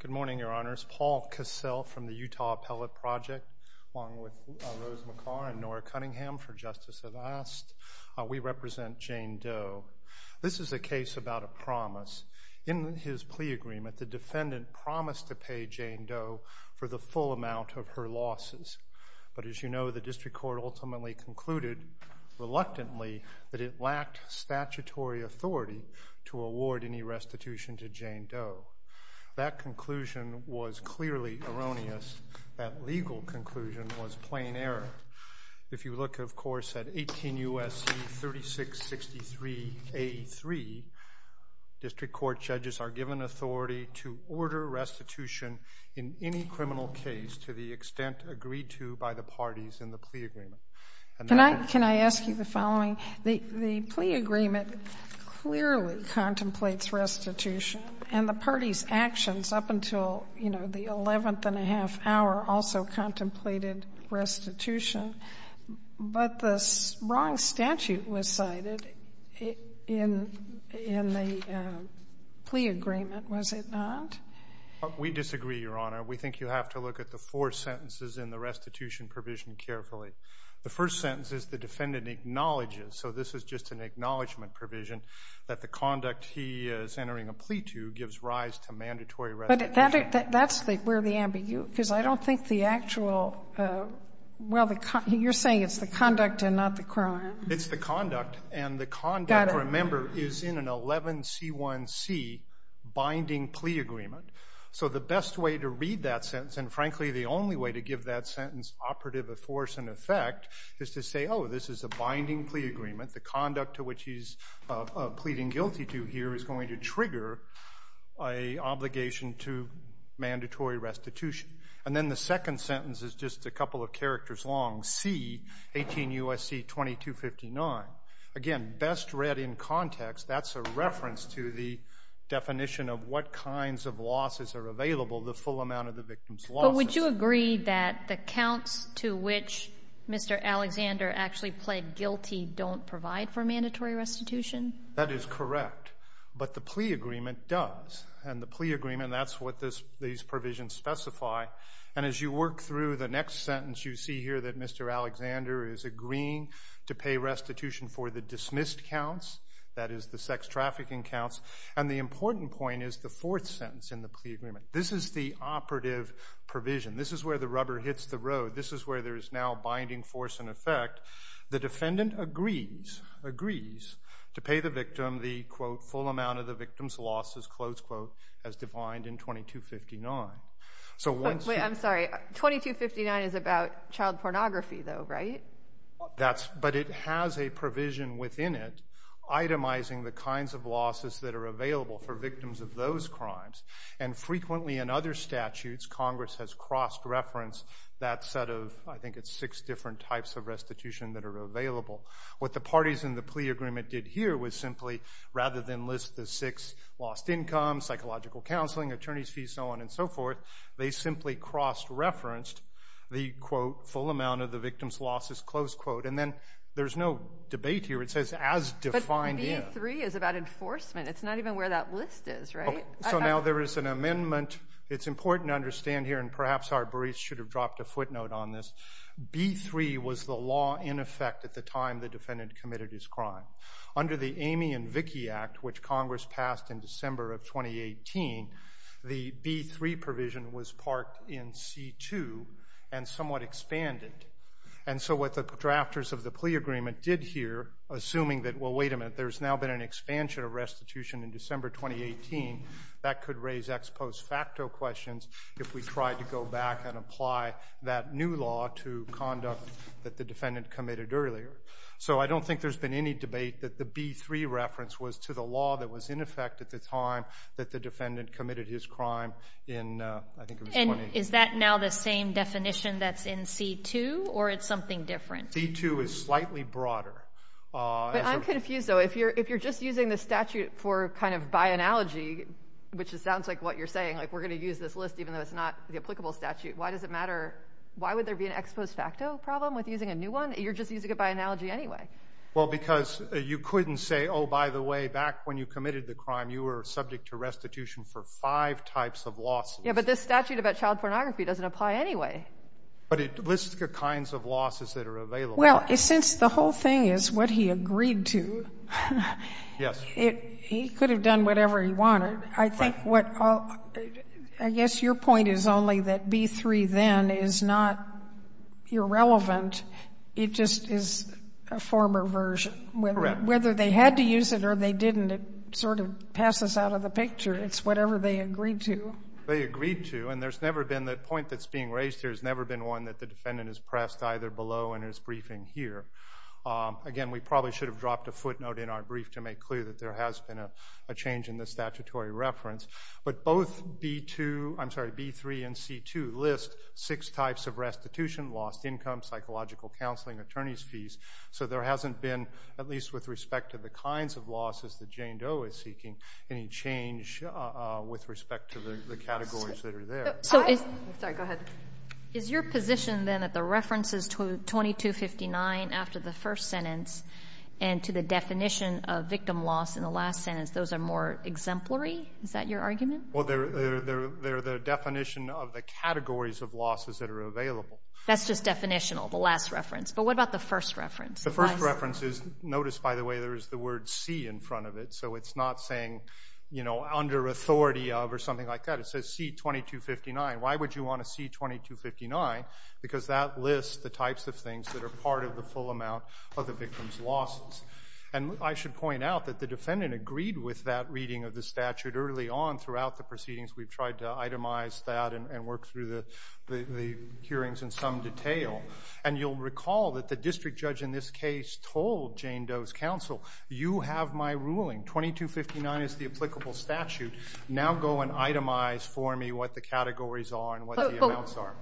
Good morning, Your Honors. Paul Cassell from the Utah Appellate Project, along with Rose McCarr and Nora Cunningham for Justice at Last. We represent Jane Doe. This is a case about a promise. In his plea agreement, the defendant promised to pay Jane Doe for the District Court ultimately concluded, reluctantly, that it lacked statutory authority to award any restitution to Jane Doe. That conclusion was clearly erroneous. That legal conclusion was plain error. If you look, of course, at 18 U.S.C. 3663A3, District Court judges are given authority to order restitution in any criminal case to the extent agreed to by the parties in the plea agreement. Can I ask you the following? The plea agreement clearly contemplates restitution, and the party's actions up until, you know, the eleventh and a half hour also contemplated restitution, but the wrong statute was cited in the plea agreement, was it not? We disagree, Your Honor. We think you have to look at the four sentences in the restitution provision carefully. The first sentence is the defendant acknowledges, so this is just an acknowledgment provision, that the conduct he is entering a plea to gives rise to mandatory restitution. But that's where the ambiguity is. I don't think the actual, well, you're saying it's the conduct and not the crime. It's the conduct, and the conduct, remember, is in an 11C1C binding plea agreement. So the best way to read that sentence, and frankly the only way to give that sentence operative of force and effect, is to say, oh, this is a binding plea agreement, the conduct to which he's pleading guilty to here is going to trigger an obligation to mandatory restitution. And then the second sentence is just a couple of characters long, C, 18 U.S.C. 2259. Again, best read in context, that's a reference to the definition of what kinds of losses are available, the full amount of the victim's losses. But would you agree that the counts to which Mr. Alexander actually pled guilty don't provide for mandatory restitution? That is correct. But the plea agreement does. And the plea agreement, that's what these provisions specify. And as you work through the next sentence, you see here that Mr. Alexander is agreeing to pay restitution for the dismissed counts, that is the sex trafficking counts. And the important point is the fourth sentence in the plea agreement. This is the operative provision. This is where the rubber hits the road. This is where there is now binding force and effect. The defendant agrees, agrees to pay the victim the, quote, full amount of the victim's losses, close quote, as defined in 2259. I'm sorry. 2259 is about child pornography, though, right? But it has a provision within it itemizing the kinds of losses that are available for victims of those crimes. And frequently in other statutes, Congress has cross-referenced that set of, I think it's six different types of restitution that are available. What the parties in the plea agreement did here was simply, rather than list the six lost income, psychological counseling, attorney's fees, so on and so forth, they simply cross-referenced the, quote, full amount of the victim's losses, close quote. And then there's no debate here. It says as defined in. But B3 is about enforcement. It's not even where that list is, right? So now there is an amendment. It's important to understand here, and perhaps our baris should have dropped a footnote on this. B3 was the law in effect at the time the defendant committed his crime. Under the Amy and Vickie Act, which Congress passed in December of 2018, the B3 provision was parked in C2 and somewhat expanded. And so what the drafters of the plea agreement did here, assuming that, well, wait a minute, there's now been an expansion of restitution in December 2018, that could raise ex post facto questions if we tried to go back and apply that new law to conduct that the defendant committed earlier. So I don't think there's been any debate that the B3 reference was to the law that was in effect at the time that the defendant committed his crime in, I think it was 2018. Is that now the same definition that's in C2, or it's something different? C2 is slightly broader. But I'm confused, though. If you're just using the statute for kind of by analogy, which sounds like what you're saying, like we're going to use this list even though it's not the applicable statute, why does it matter? Why would there be an ex post facto problem with using a new one? You're just using it by analogy anyway. Well, because you couldn't say, oh, by the way, back when you committed the crime, you were subject to restitution for five types of losses. Yeah, but this statute about child pornography doesn't apply anyway. But it lists the kinds of losses that are available. Well, since the whole thing is what he agreed to, he could have done whatever he wanted. I think what I guess your point is only that B3 then is not irrelevant. It just is a former version. Whether they had to use it or they didn't, it sort of passes out of the picture. It's whatever they agreed to. They agreed to. And there's never been that point that's being raised here. There's never been one that the defendant is pressed either below and is briefing here. Again, we probably should have dropped a footnote in our brief to make clear that there has been a change in the statutory reference. But both B2, I'm sorry, B3 and C2 list six types of restitution, lost income, psychological counseling, attorney's fees. So there hasn't been, at least with respect to the kinds of losses that Jane Doe is seeking, any change with respect to the categories that are there. Sorry, go ahead. Is your position then that the references to 2259 after the first sentence and to the exemplary? Is that your argument? Well, they're the definition of the categories of losses that are available. That's just definitional, the last reference. But what about the first reference? The first reference is, notice by the way, there is the word C in front of it. So it's not saying, you know, under authority of or something like that. It says C2259. Why would you want a C2259? Because that lists the types of things that are part of the full amount of the victim's losses. And I should point out that the defendant agreed with that reading of the statute early on throughout the proceedings. We've tried to itemize that and work through the hearings in some detail. And you'll recall that the district judge in this case told Jane Doe's counsel, you have my ruling. 2259 is the applicable statute. Now go and itemize for me what the categories are and what the amounts are.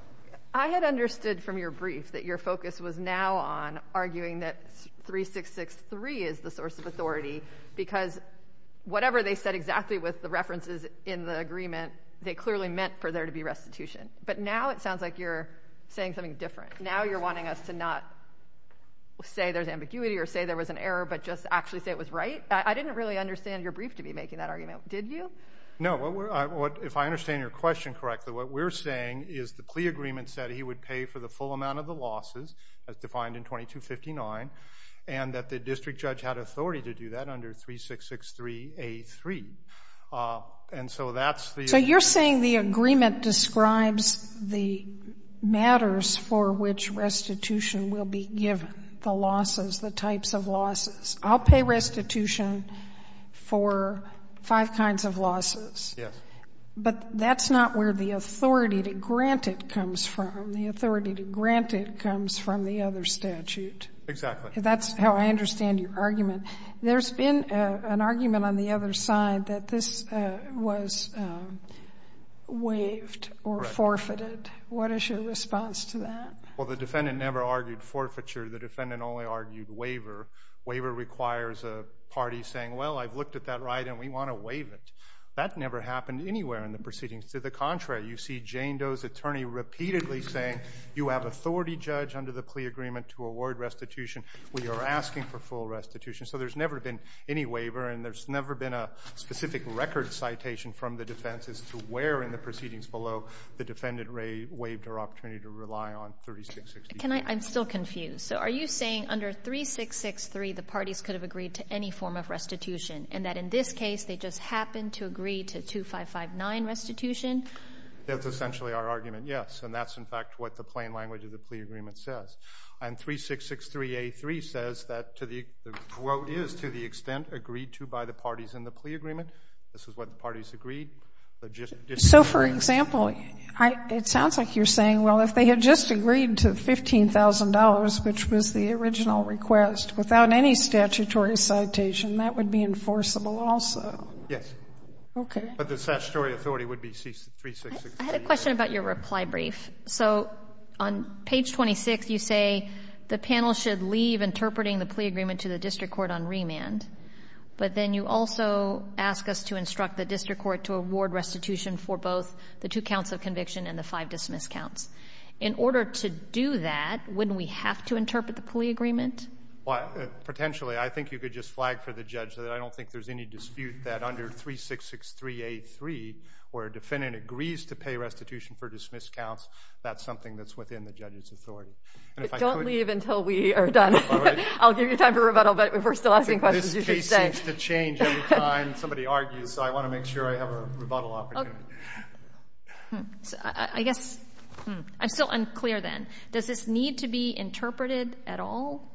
I had understood from your brief that your focus was now on arguing that 3663 is the source of authority because whatever they said exactly with the references in the agreement, they clearly meant for there to be restitution. But now it sounds like you're saying something different. Now you're wanting us to not say there's ambiguity or say there was an error, but just actually say it was right. I didn't really understand your brief to be making that argument. Did you? No. If I understand your question correctly, what we're saying is the plea agreement said he would pay for the full amount of the losses as defined in 2259 and that the district judge had authority to do that under 3663A3. And so that's the... So you're saying the agreement describes the matters for which restitution will be given, the losses, the types of losses. I'll pay restitution for five kinds of losses. Yes. But that's not where the authority to grant it comes from. The authority to grant it comes from the other statute. Exactly. That's how I understand your argument. There's been an argument on the other side that this was waived or forfeited. What is your response to that? Well, the defendant never argued forfeiture. The defendant only argued waiver. Waiver requires a party saying, well, I've looked at that right and we want to waive it. That never happened anywhere in the proceedings. To the contrary, you see Jane Doe's attorney repeatedly saying, you have authority, judge, under the plea agreement to award restitution. We are asking for full restitution. So there's never been any waiver and there's never been a specific record citation from the defense as to where in the proceedings below the defendant waived her restitution. I'm still confused. So are you saying under 3663 the parties could have agreed to any form of restitution and that in this case they just happened to agree to 2559 restitution? That's essentially our argument, yes. And that's in fact what the plain language of the plea agreement says. And 3663A3 says that the quote is to the extent agreed to by the parties in the plea agreement. This is what the parties agreed. So for example, it sounds like you're saying, well, if they had just agreed to $15,000, which was the original request, without any statutory citation, that would be enforceable also. Yes. Okay. But the statutory authority would be 3663A3. I had a question about your reply brief. So on page 26, you say the panel should leave interpreting the plea agreement to the district court on remand. But then you also ask us to restitution for both the two counts of conviction and the five dismiss counts. In order to do that, wouldn't we have to interpret the plea agreement? Potentially. I think you could just flag for the judge that I don't think there's any dispute that under 3663A3 where a defendant agrees to pay restitution for dismiss counts, that's something that's within the judge's authority. But don't leave until we are done. I'll give you time for rebuttal. But if we're still asking questions, you should stay. The case seems to change every time somebody argues. So I want to make sure I have a rebuttal opportunity. I'm still unclear then. Does this need to be interpreted at all?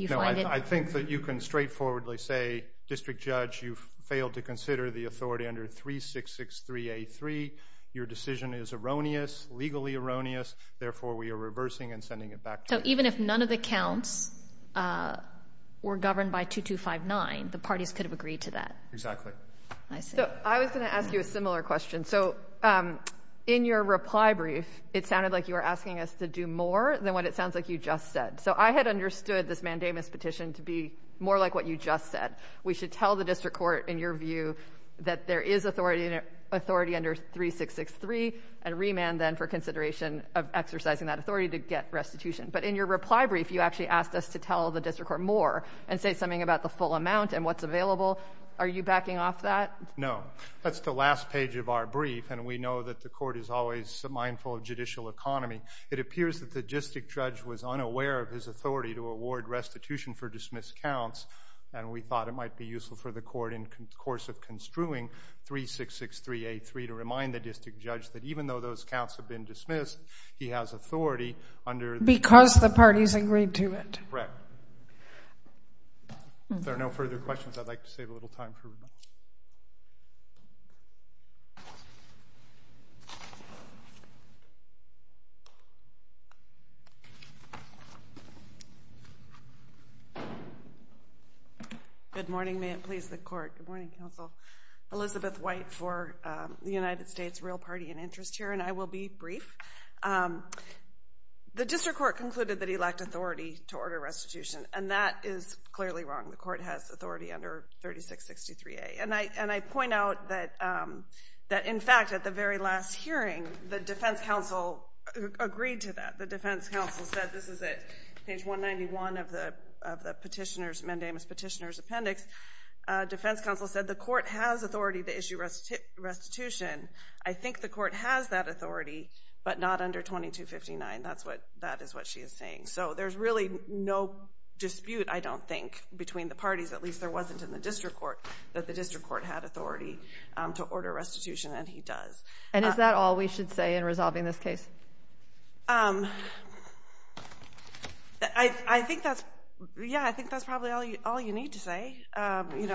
I think that you can straightforwardly say, District Judge, you've failed to consider the authority under 3663A3. Your decision is erroneous, legally erroneous. Therefore, we are reversing and sending it back to you. Even if none of the counts were governed by 2259, the parties could have agreed to that. Exactly. I was going to ask you a similar question. In your reply brief, it sounded like you were asking us to do more than what it sounds like you just said. I had understood this mandamus petition to be more like what you just said. We should tell the district court, in your view, that there is authority under 3663 and remand then for consideration of exercising that authority to get restitution. But in your reply brief, you actually asked us to tell the district court more and say something about the full amount and what's available. Are you backing off that? No. That's the last page of our brief, and we know that the court is always mindful of judicial economy. It appears that the district judge was unaware of his authority to award restitution for dismissed counts, and we thought it might be useful for the court in the course of construing 3663A3 to remind the district judge that even though those counts have been Because the parties agreed to it. Correct. If there are no further questions, I'd like to save a little time for remand. Good morning. May it please the court. Good morning, counsel. Elizabeth White for the United States Real Party and Interest here, and I will be brief. The district court concluded that he lacked authority to order restitution, and that is clearly wrong. The court has authority under 3663A. And I point out that, in fact, at the very last hearing, the defense counsel agreed to that. The defense counsel said, this is at page 191 of the petitioner's appendix, defense counsel said the court has authority to issue restitution. I think the court has that authority, but not under 2259. That is what she is saying. So there's really no dispute, I don't think, between the parties, at least there wasn't in the district court, that the district court had authority to order restitution, and he does. And is that all we should say in You know,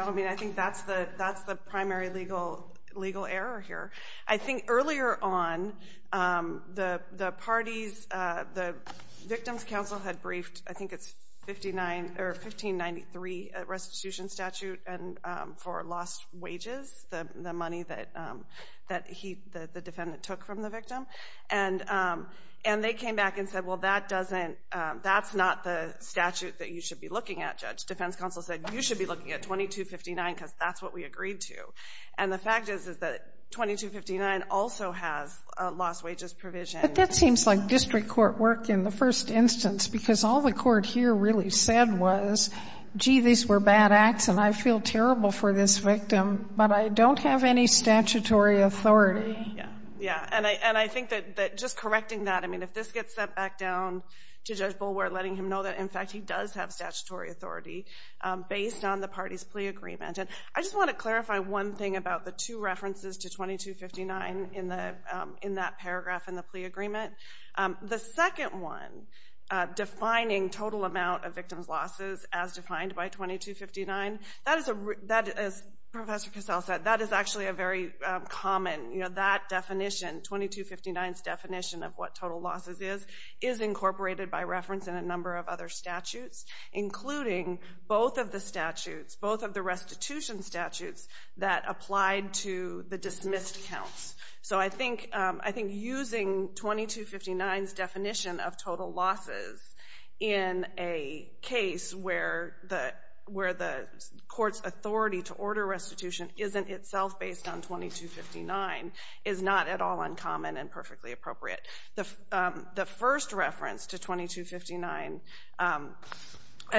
I mean, I think that's the primary legal error here. I think earlier on, the parties, the victim's counsel had briefed, I think it's 1593 restitution statute for lost wages, the money that the defendant took from the victim. And they came back and said, well, that doesn't, that's not the statute that you should be looking at, judge. Defense counsel said you should be looking at 2259, because that's what we agreed to. And the fact is, is that 2259 also has a lost wages provision. But that seems like district court work in the first instance, because all the court here really said was, gee, these were bad acts, and I feel terrible for this victim, but I don't have any statutory authority. Yeah, yeah. And I think that just correcting that, I mean, if this gets sent back down to Judge Kassell, he will have statutory authority based on the party's plea agreement. And I just want to clarify one thing about the two references to 2259 in that paragraph in the plea agreement. The second one, defining total amount of victim's losses as defined by 2259, that is, as Professor Kassell said, that is actually a very common, you know, that definition, 2259's definition of what total losses is, is incorporated by reference in a number of other statutes, including both of the statutes, both of the restitution statutes that applied to the dismissed counts. So I think using 2259's definition of total losses in a case where the court's authority to order restitution isn't itself based on 2259 is not at all I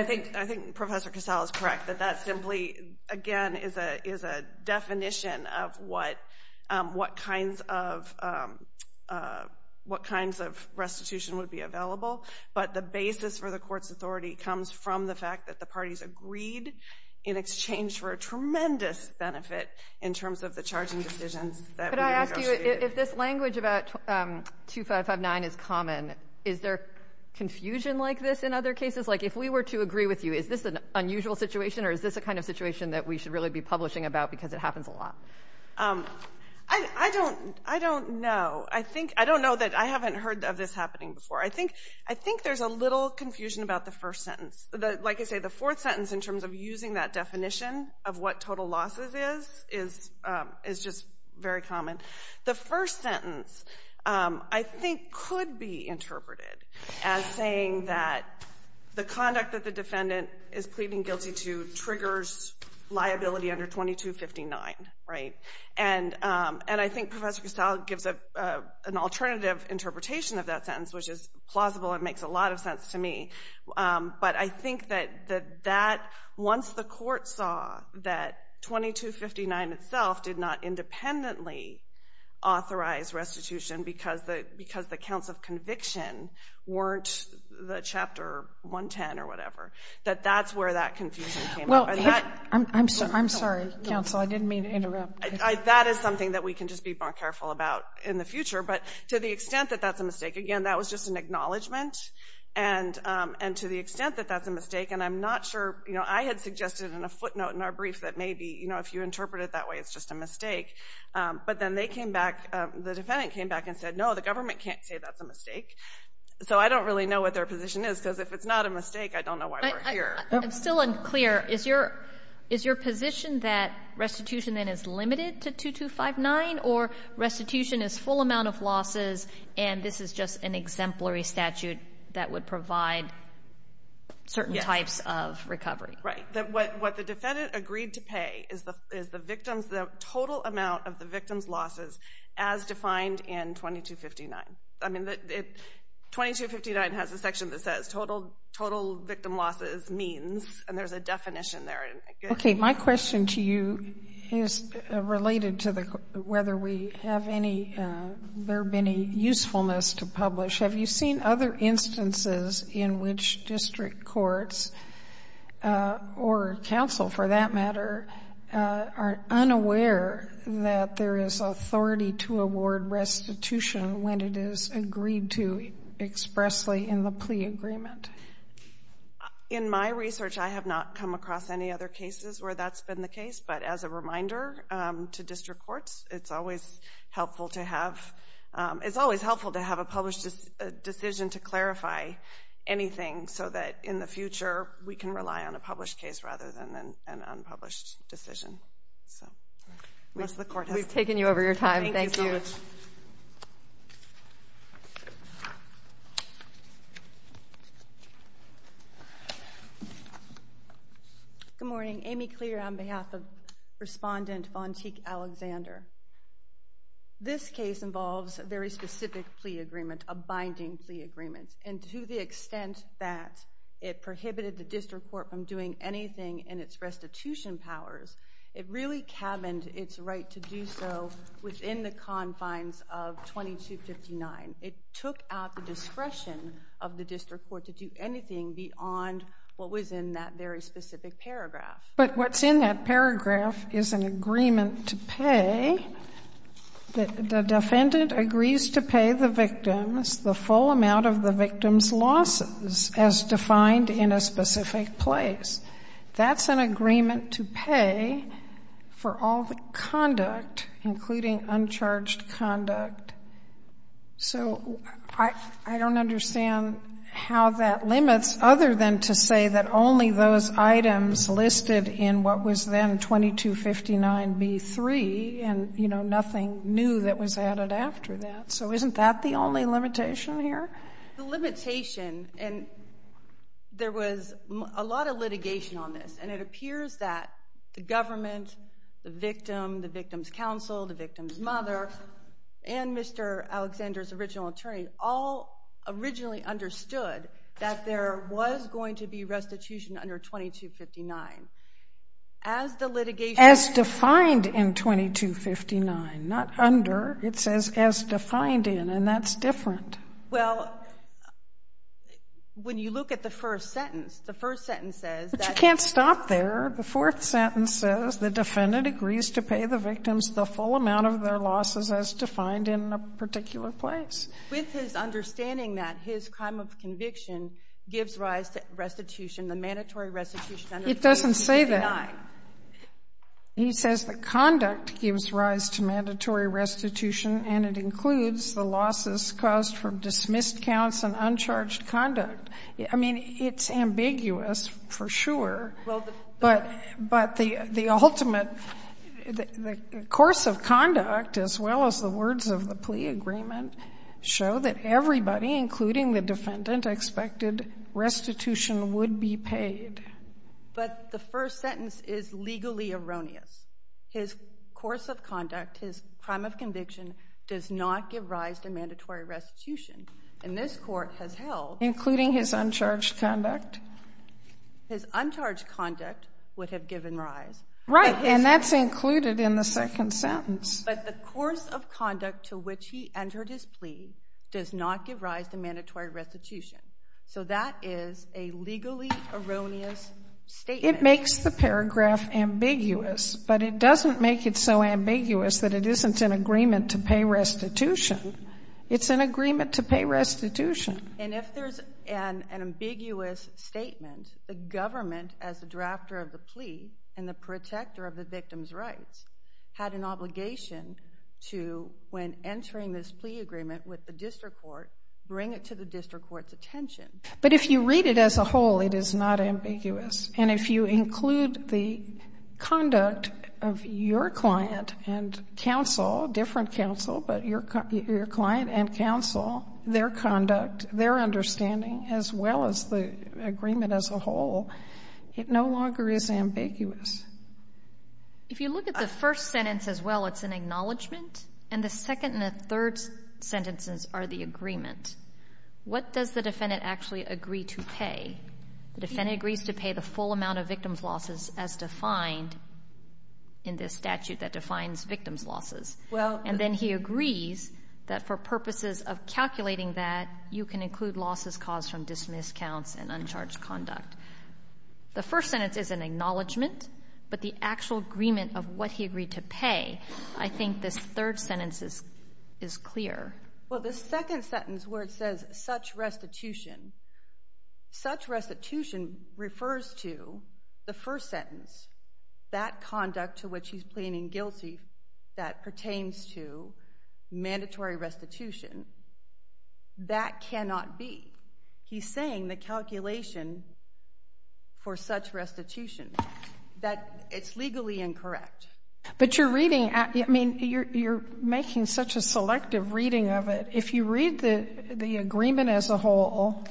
think Professor Kassell is correct, that that simply, again, is a definition of what kinds of restitution would be available. But the basis for the court's authority comes from the fact that the parties agreed in exchange for a tremendous benefit in terms of the charging decisions that we negotiated. Could I ask you, if this language about 2559 is common, is there confusion like this in other cases? Like if we were to agree with you, is this an unusual situation or is this a kind of situation that we should really be publishing about because it happens a lot? I don't know. I think, I don't know that I haven't heard of this happening before. I think there's a little confusion about the first sentence. Like I say, the fourth sentence in terms of using that definition of what total losses is, is just very common. The first sentence I think could be interpreted as saying that the conduct that the defendant is pleading guilty to triggers liability under 2259, right? And I think Professor Kassell gives an alternative interpretation of that sentence, which is plausible and makes a lot of sense to me. But I think that once the court saw that 2259 itself did not independently authorize restitution because the counts of conviction weren't the chapter 110 or whatever, that that's where that confusion came up. I'm sorry, counsel. I didn't mean to interrupt. That is something that we can just be more careful about in the future. But to the extent that that's a mistake, again, that was just an acknowledgement. And to the extent that that's a mistake, and I'm not sure, you know, I had suggested in a footnote in our brief that maybe, if you interpret it that way, it's just a mistake. But then they came back, the defendant came back and said, no, the government can't say that's a mistake. So I don't really know what their position is because if it's not a mistake, I don't know why we're here. I'm still unclear. Is your position that restitution then is limited to 2259 or restitution is full amount of losses and this is just an exemplary statute that would provide certain types of recovery? Right. What the defendant agreed to pay is the victims, the total amount of the victims' losses as defined in 2259. I mean, 2259 has a section that says total victim losses means, and there's a definition there. Okay. My question to you is related to whether we have any, there have been any usefulness to publish. Have you seen other instances in which district courts or counsel for that matter are unaware that there is authority to award restitution when it is agreed to expressly in the plea agreement? In my research, I have not come across any other cases where that's been the case. But as a to clarify anything so that in the future, we can rely on a published case rather than an unpublished decision. We've taken you over your time. Thank you. Good morning. Amy Clear on behalf of Respondent Vontique Alexander. This case involves a very specific plea agreement, a binding plea agreement. And to the extent that it prohibited the district court from doing anything in its restitution powers, it really cabined its right to do so within the confines of 2259. It took out the discretion of the district court to do anything beyond what was in that very specific paragraph. But what's in that paragraph is an agreement to pay. The defendant agrees to pay the victims the full amount of the victim's losses as defined in a specific place. That's an agreement to pay for all the conduct, including uncharged conduct. So I don't understand how that limits other than to say that only those items listed in what was then 2259b3 and, you know, nothing new that was added after that. So isn't that the only limitation here? The limitation, and there was a lot of litigation on this, and it appears that the government, the victim, the victim's counsel, the victim's mother, and Mr. Alexander's original attorney all originally understood that there was going to be restitution under 2259. As the litigation... As defined in 2259, not under. It says as defined in, and that's different. Well, when you look at the first sentence, the first sentence says that... But you can't stop there. The fourth sentence says the defendant agrees to pay the victims the full amount of their losses as defined in a particular place. With his understanding that his crime of conviction gives rise to restitution, the mandatory restitution under 2259. It doesn't say that. He says the conduct gives rise to mandatory restitution, and it includes the losses caused from dismissed counts and uncharged conduct. I mean, it's ambiguous, for sure, but the ultimate, the course of conduct, as well as the words of the plea agreement, show that everybody, including the defendant, expected restitution would be paid. But the first sentence is legally erroneous. His course of conduct, his crime of conviction, does not give rise to mandatory restitution, and this court has held... Including his uncharged conduct. His uncharged conduct would have given rise. Right, and that's included in the second sentence. But the course of conduct to which he entered his plea does not give rise to mandatory restitution. So that is a legally erroneous statement. It makes the paragraph ambiguous, but it doesn't make it so ambiguous that it isn't an agreement to pay restitution. It's an agreement to pay restitution. And if there's an ambiguous statement, the government, as the drafter of the plea and the protector of the victim's rights, had an obligation to, when entering this plea agreement with the district court, bring it to the district court's attention. But if you read it as a whole, it is not ambiguous. And if you include the conduct of your client and counsel, different counsel, but your client and counsel, their conduct, their understanding, as well as the agreement as a whole, it no longer is ambiguous. If you look at the first sentence as well, it's an acknowledgement. And the second and the third sentences are the agreement. What does the defendant actually agree to pay? The defendant agrees to pay the full amount of victim's losses as defined in this statute that defines victim's losses. Well... The first sentence is an acknowledgement, but the actual agreement of what he agreed to pay, I think this third sentence is clear. Well, the second sentence where it says such restitution, such restitution refers to the first sentence, that conduct to which he's pleading guilty that pertains to mandatory restitution, that cannot be. He's saying the calculation for such restitution, that it's legally incorrect. But you're reading, I mean, you're making such a selective reading of it. If you read the agreement as a whole,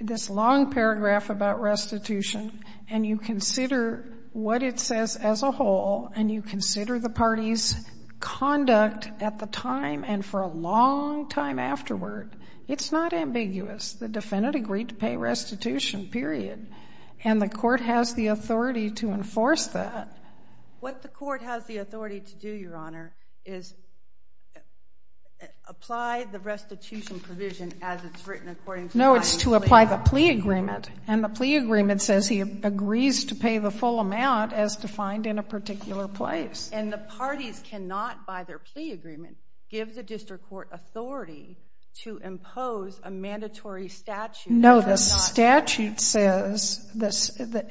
this long paragraph about restitution, and you consider what it says as a whole, and you consider the party's conduct at the time, and for a long time afterward, it's not ambiguous. The defendant agreed to pay restitution, period. And the court has the authority to enforce that. But what the court has the authority to do, Your Honor, is apply the restitution provision as it's written according to... No, it's to apply the plea agreement. And the plea agreement says he agrees to pay the full amount as defined in a particular place. And the parties cannot, by their plea agreement, give the district court authority to impose a mandatory statute. No, the statute says that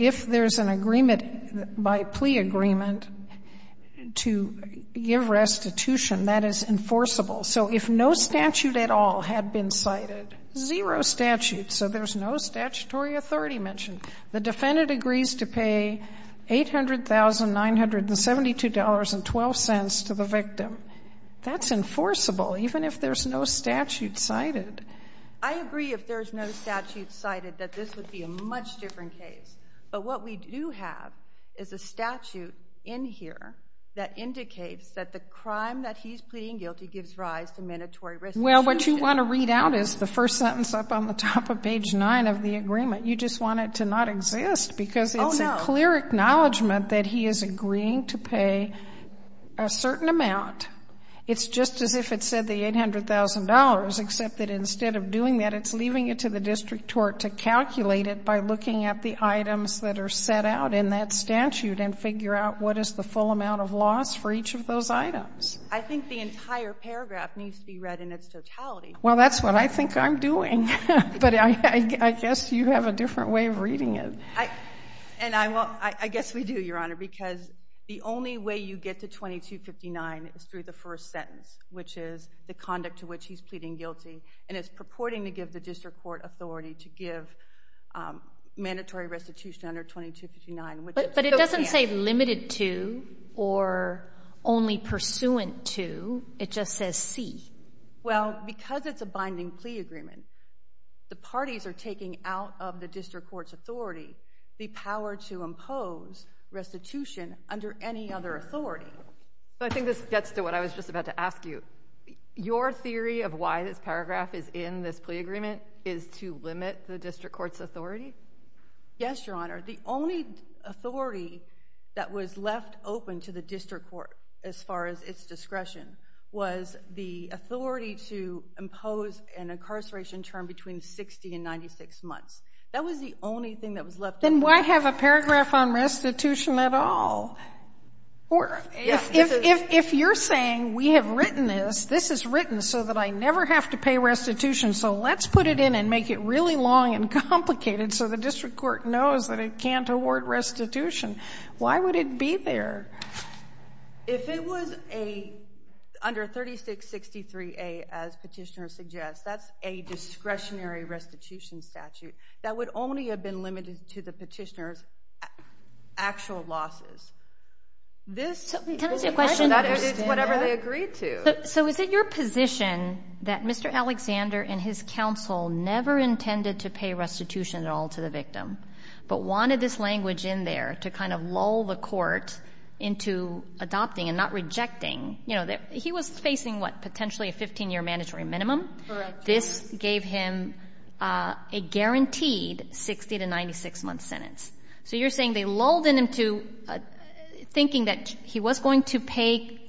if there's an agreement by plea agreement to give restitution, that is enforceable. So if no statute at all had been cited, zero statutes. So there's no statutory authority mentioned. The defendant agrees to pay $800,972.12 to the victim. That's enforceable, even if there's no statute cited. I agree if there's no statute cited that this would be a much different case. But what we do have is a statute in here that indicates that the crime that he's pleading guilty gives rise to mandatory restitution. Well, what you want to read out is the first sentence up on the top of page 9 of the agreement. You just want it to not exist because it's a clear acknowledgement that he is agreeing to pay a certain amount. It's just as if it said the $800,000, except that instead of doing that, it's leaving it to the district court to calculate it by looking at the items that are set out in that statute and figure out what is the full amount of loss for each of those items. I think the entire paragraph needs to be read in its totality. Well, that's what I think I'm doing. But I guess you have a different way of reading it. And I guess we do, Your Honor, because the only way you get to 2259 is through the first sentence, which is the conduct to which he's pleading guilty. And it's purporting to give the district court authority to give mandatory restitution under 2259. But it doesn't say limited to or only pursuant to. It just says see. Well, because it's a binding plea agreement, the parties are taking out of the district court's authority the power to impose restitution under any other authority. So I think this gets to what I was just about to ask you. Your theory of why this paragraph is in this plea agreement is to limit the district court's authority? Yes, Your Honor. The only authority that was left open to the district court, as far as its discretion, was the authority to impose an incarceration term between 60 and 96 months. That was the only thing that was left open. Then why have a paragraph on restitution at all? If you're saying we have written this, this is written so that I never have to pay restitution, so let's put it in and make it really long and complicated so the district court knows that it can't award restitution, why would it be there? If it was under 3663A, as petitioner suggests, that's a discretionary restitution statute that would only have been limited to the petitioner's actual losses. This is whatever they agreed to. So is it your position that Mr. Alexander and his counsel never intended to pay restitution at all to the victim, but wanted this language in there to kind of lull the court into adopting and not rejecting? He was facing, what, potentially a 15-year mandatory minimum? Correct. This gave him a guaranteed 60 to 96-month sentence. So you're saying they lulled him into thinking that he was going to pay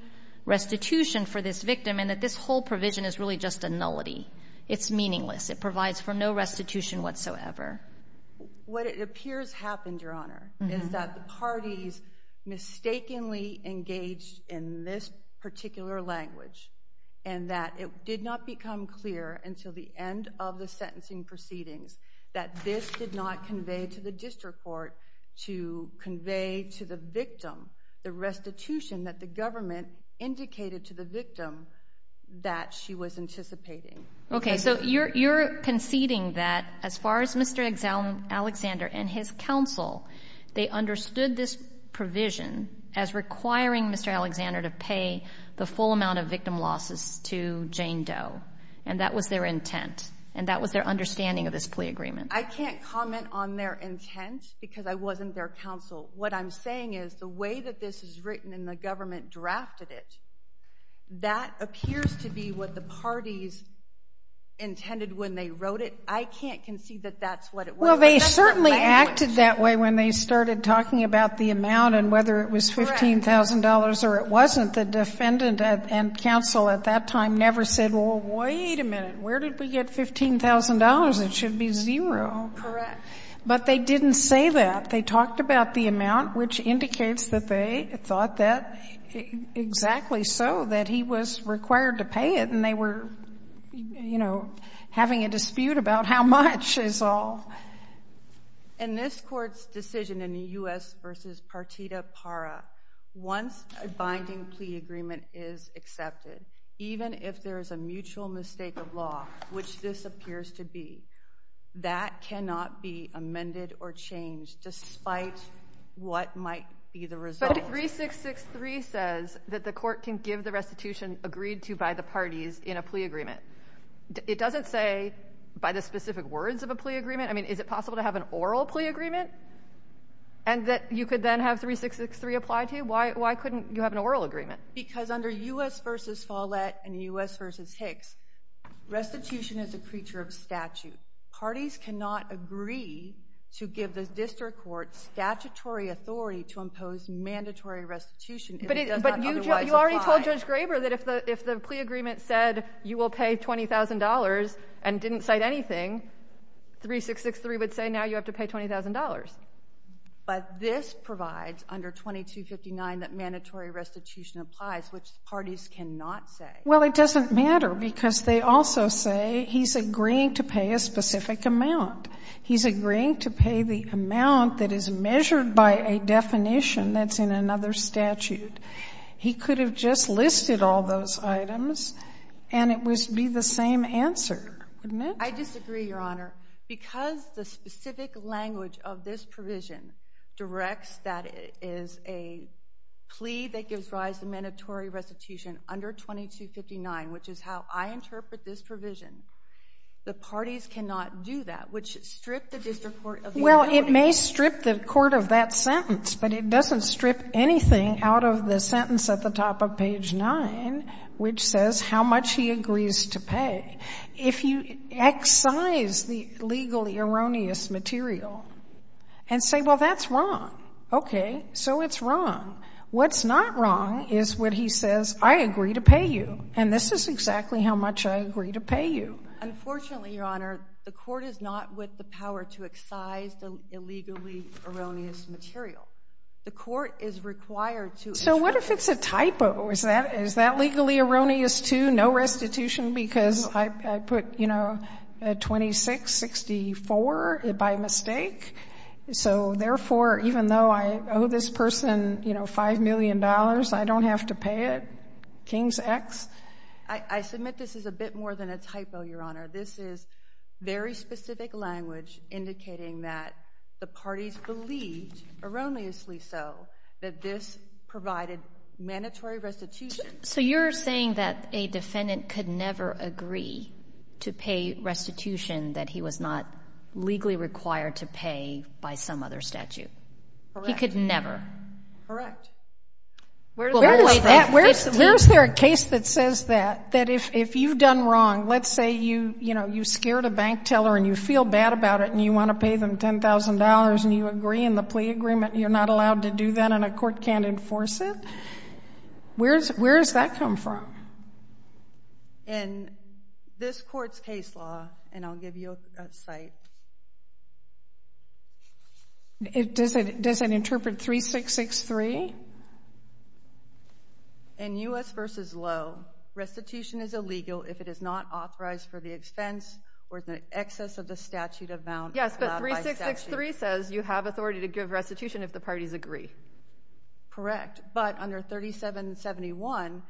restitution for this victim and that this whole provision is really just a nullity. It's meaningless. It provides for no restitution whatsoever. What appears happened, Your Honor, is that the parties mistakenly engaged in this particular language and that it did not become clear until the end of the sentencing proceedings that this did not convey to the district court to convey to the victim the restitution that the government indicated to the victim that she was anticipating. Okay, so you're conceding that as far as Mr. Alexander and his counsel, they understood this provision as requiring Mr. Alexander to pay the full amount of victim losses to Jane Doe, and that was their intent, and that was their understanding of this plea agreement. I can't comment on their intent because I wasn't their counsel. What I'm saying is the way that this is written and the government drafted it, that appears to be what the parties intended when they wrote it. I can't concede that that's what it was. Well, they certainly acted that way when they started talking about the amount and whether it was $15,000 or it wasn't. The defendant and counsel at that time never said, well, wait a minute. Where did we get $15,000? It should be zero. Correct. But they didn't say that. They talked about the amount, which indicates that they thought that exactly so, that he was required to pay it, and they were, you know, having a dispute about how much is all. In this Court's decision in the U.S. v. Partita Para, once a binding plea agreement is accepted, even if there is a mutual mistake of law, which this appears to be, that cannot be amended or changed despite what might be the result. But 3663 says that the Court can give the restitution agreed to by the parties in a plea agreement. It doesn't say by the specific words of a plea agreement. I mean, is it possible to have an oral plea agreement? And that you could then have 3663 applied to? Why couldn't you have an oral agreement? Because under U.S. v. Follett and U.S. v. Hicks, restitution is a creature of statute. Parties cannot agree to give the district court statutory authority to impose mandatory restitution if it does not otherwise apply. You already told Judge Graber that if the plea agreement said you will pay $20,000 and didn't cite anything, 3663 would say now you have to pay $20,000. But this provides under 2259 that mandatory restitution applies, which parties cannot say. Well, it doesn't matter because they also say he's agreeing to pay a specific amount. He's agreeing to pay the amount that is measured by a definition that's in another statute. He could have just listed all those items and it would be the same answer, wouldn't it? I disagree, Your Honor. Because the specific language of this provision directs that it is a plea that gives rise to mandatory restitution under 2259, which is how I interpret this provision. The parties cannot do that, which strip the district court of the authority. Well, it may strip the court of that sentence, but it doesn't strip anything out of the sentence at the top of page nine, which says how much he agrees to pay. If you excise the legally erroneous material and say, well, that's wrong. Okay, so it's wrong. What's not wrong is when he says, I agree to pay you. And this is exactly how much I agree to pay you. Unfortunately, Your Honor, the court is not with the power to excise the illegally erroneous material. The court is required to. So what if it's a typo? Is that legally erroneous, too? No restitution because I put, you know, 2664 by mistake. So therefore, even though I owe this person, you know, $5 million, I don't have to pay it. King's X. I submit this is a bit more than a typo, Your Honor. This is very specific language indicating that the parties believed, erroneously so, that this provided mandatory restitution. So you're saying that a defendant could never agree to pay restitution that he was not legally required to pay by some other statute. He could never. Correct. Where is there a case that says that? That if you've done wrong, let's say you, you know, you scared a bank teller and you feel bad about it and you want to pay them $10,000 and you agree in the plea agreement and you're not allowed to do that and a court can't enforce it. Where does that come from? In this court's case law, and I'll give you a cite. Does it interpret 3663? In U.S. v. Low, restitution is illegal if it is not authorized for the expense or the excess of the statute amount. Yes, but 3663 says you have authority to give restitution if the parties agree. Correct, but under 3771,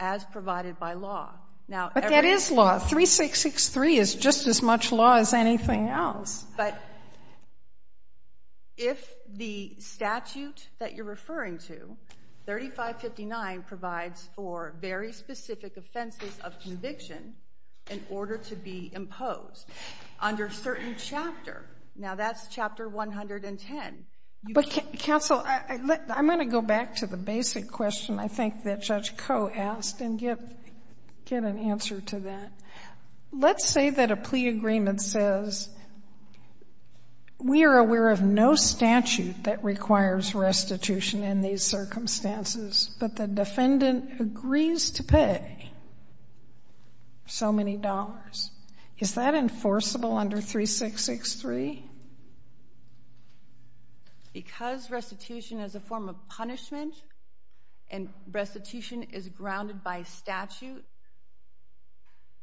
as provided by law. But that is law. 3663 is just as much law as anything else. But if the statute that you're referring to, 3559 provides for very specific offenses of conviction in order to be imposed under certain chapter. Now that's chapter 110. But counsel, I'm going to go back to the basic question I think that Judge Koh asked and get an answer to that. Let's say that a plea agreement says we are aware of no statute that requires restitution in these circumstances, but the defendant agrees to pay so many dollars. Is that enforceable under 3663? Because restitution is a form of punishment and restitution is grounded by statute,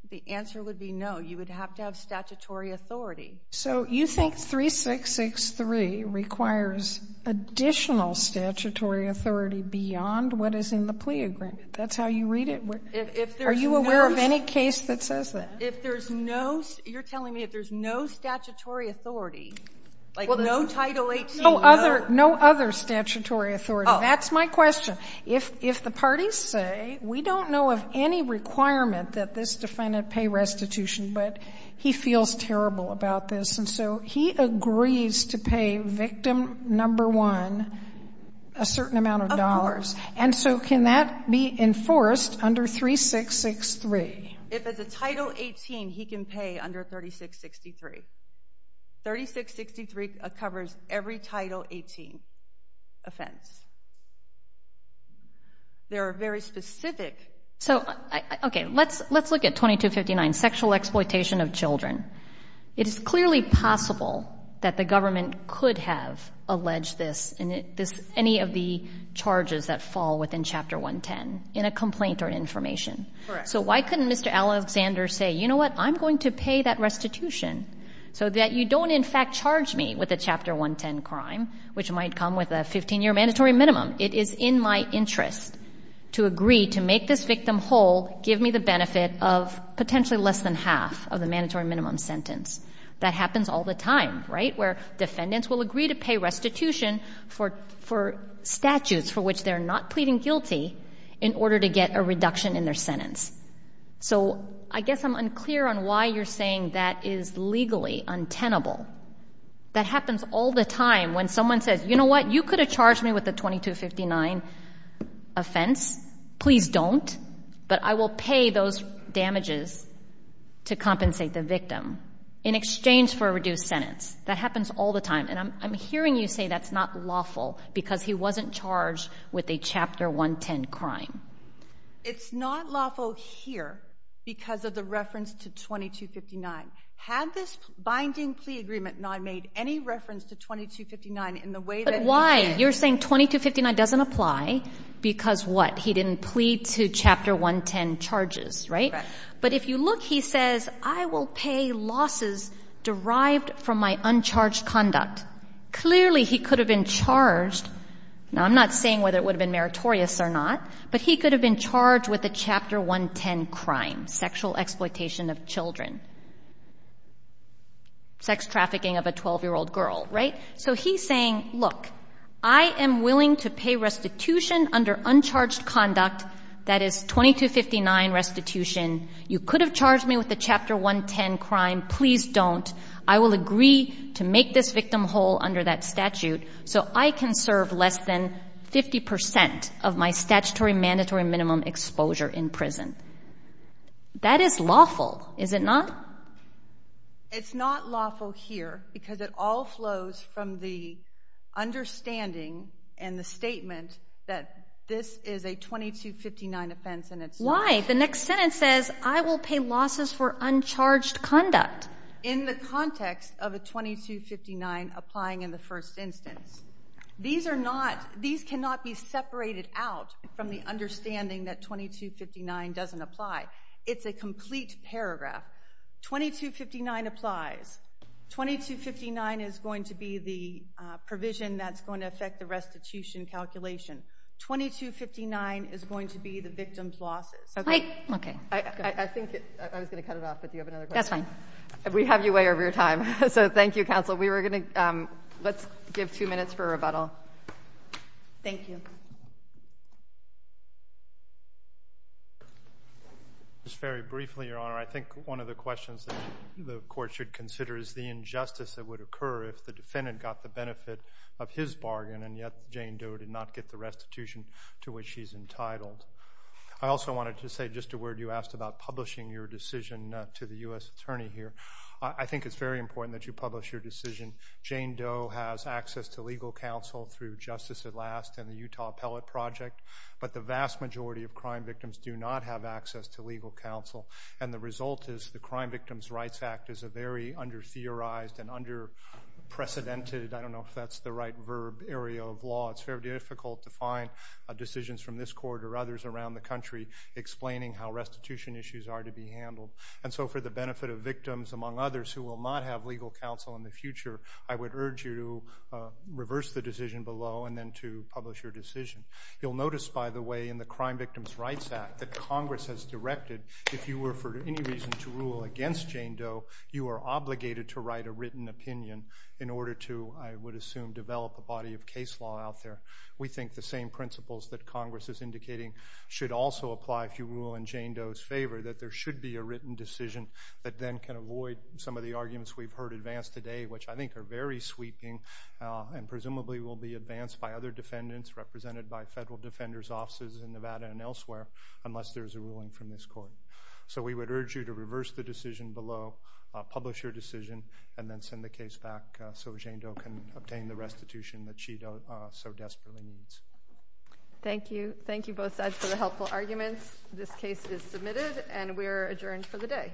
the answer would be no. You would have to have statutory authority. So you think 3663 requires additional statutory authority beyond what is in the plea agreement? That's how you read it? Are you aware of any case that says that? If there's no, you're telling me if there's no statutory authority, like no Title 18, no. No other statutory authority. That's my question. If the parties say we don't know of any requirement that this defendant pay restitution, but he feels terrible about this, and so he agrees to pay victim number one a certain amount of dollars, and so can that be enforced under 3663? If it's a Title 18, he can pay under 3663. 3663 covers every Title 18 offense. There are very specific... So, okay, let's look at 2259, sexual exploitation of children. It is clearly possible that the government could have alleged this in any of the charges that fall within Chapter 110 in a complaint or information. So why couldn't Mr. Alexander say, you know what, I'm going to pay that restitution so that you don't in fact charge me with a Chapter 110 crime, which might come with a 15-year mandatory minimum. It is in my interest to agree to make this victim whole, give me the benefit of potentially less than half of the mandatory minimum sentence. That happens all the time, right, where defendants will agree to pay restitution for statutes for which they're not pleading guilty in order to get a reduction in their sentence. So I guess I'm unclear on why you're saying that is legally untenable. That happens all the time when someone says, you know what, you could have charged me with a 2259 offense. Please don't. But I will pay those damages to compensate the victim in exchange for a reduced sentence. That happens all the time. And I'm hearing you say that's not lawful because he wasn't charged with a Chapter 110 crime. It's not lawful here because of the reference to 2259. Had this binding plea agreement not made any reference to 2259 in the way that he did. But why? You're saying 2259 doesn't apply because what? He didn't plead to Chapter 110 charges, right? But if you look, he says, I will pay losses derived from my uncharged conduct. Clearly, he could have been charged. Now, I'm not saying whether it would have been meritorious or not, but he could have been charged with a Chapter 110 crime, sexual exploitation of children, sex trafficking of a 12-year-old girl, right? So he's saying, look, I am willing to pay restitution under uncharged conduct that is 2259 restitution. You could have charged me with a Chapter 110 crime. Please don't. I will agree to make this victim whole under that statute so I can serve less than 50% of my statutory mandatory minimum exposure in prison. That is lawful, is it not? It's not lawful here because it all flows from the understanding and the statement that this is a 2259 offense and it's not. Why? The next sentence says, I will pay losses for uncharged conduct. In the context of a 2259 applying in the first instance, these are not, these cannot be separated out from the understanding that 2259 doesn't apply. It's a complete paragraph. 2259 applies. 2259 is going to be the provision that's going to affect the restitution calculation. 2259 is going to be the victim's losses. Okay? Okay. I think I was going to cut it off, but do you have another question? That's fine. We have you way over your time. So thank you, counsel. We were going to, let's give two minutes for rebuttal. Thank you. Just very briefly, Your Honor, I think one of the questions the court should consider is the injustice that would occur if the defendant got the benefit of his bargain and yet Jane Doe did not get the restitution to which she's entitled. I also wanted to say just a word you asked about publishing your decision to the U.S. attorney here. I think it's very important that you publish your decision. Jane Doe has access to legal counsel through Justice at Last and the Utah Appellate Project, but the vast majority of crime victims do not have access to legal counsel. And the result is the Crime Victims' Rights Act is a very under-theorized and under-precedented, I don't know if that's the right verb, area of law. It's very difficult to find decisions from this court or others around the country explaining how restitution issues are to be handled. And so for the benefit of victims, among others, who will not have legal counsel in the future, I would urge you to reverse the decision below and then to publish your decision. You'll notice, by the way, in the Crime Victims' Rights Act that Congress has directed, if you were for any reason to rule against Jane Doe, you are obligated to write a written opinion in order to, I would assume, develop a body of case law out there. We think the same principles that Congress is indicating should also apply if you rule in Jane Doe's favor, that there should be a written decision that then can avoid some of the arguments we've heard advanced today, which I think are very sweeping and presumably will be advanced by other defendants represented by federal defenders' offices in Nevada and elsewhere. Unless there's a ruling from this court. So we would urge you to reverse the decision below, publish your decision, and then send the case back so Jane Doe can obtain the restitution that she so desperately needs. Thank you. Thank you both sides for the helpful arguments. This case is submitted and we're adjourned for the day.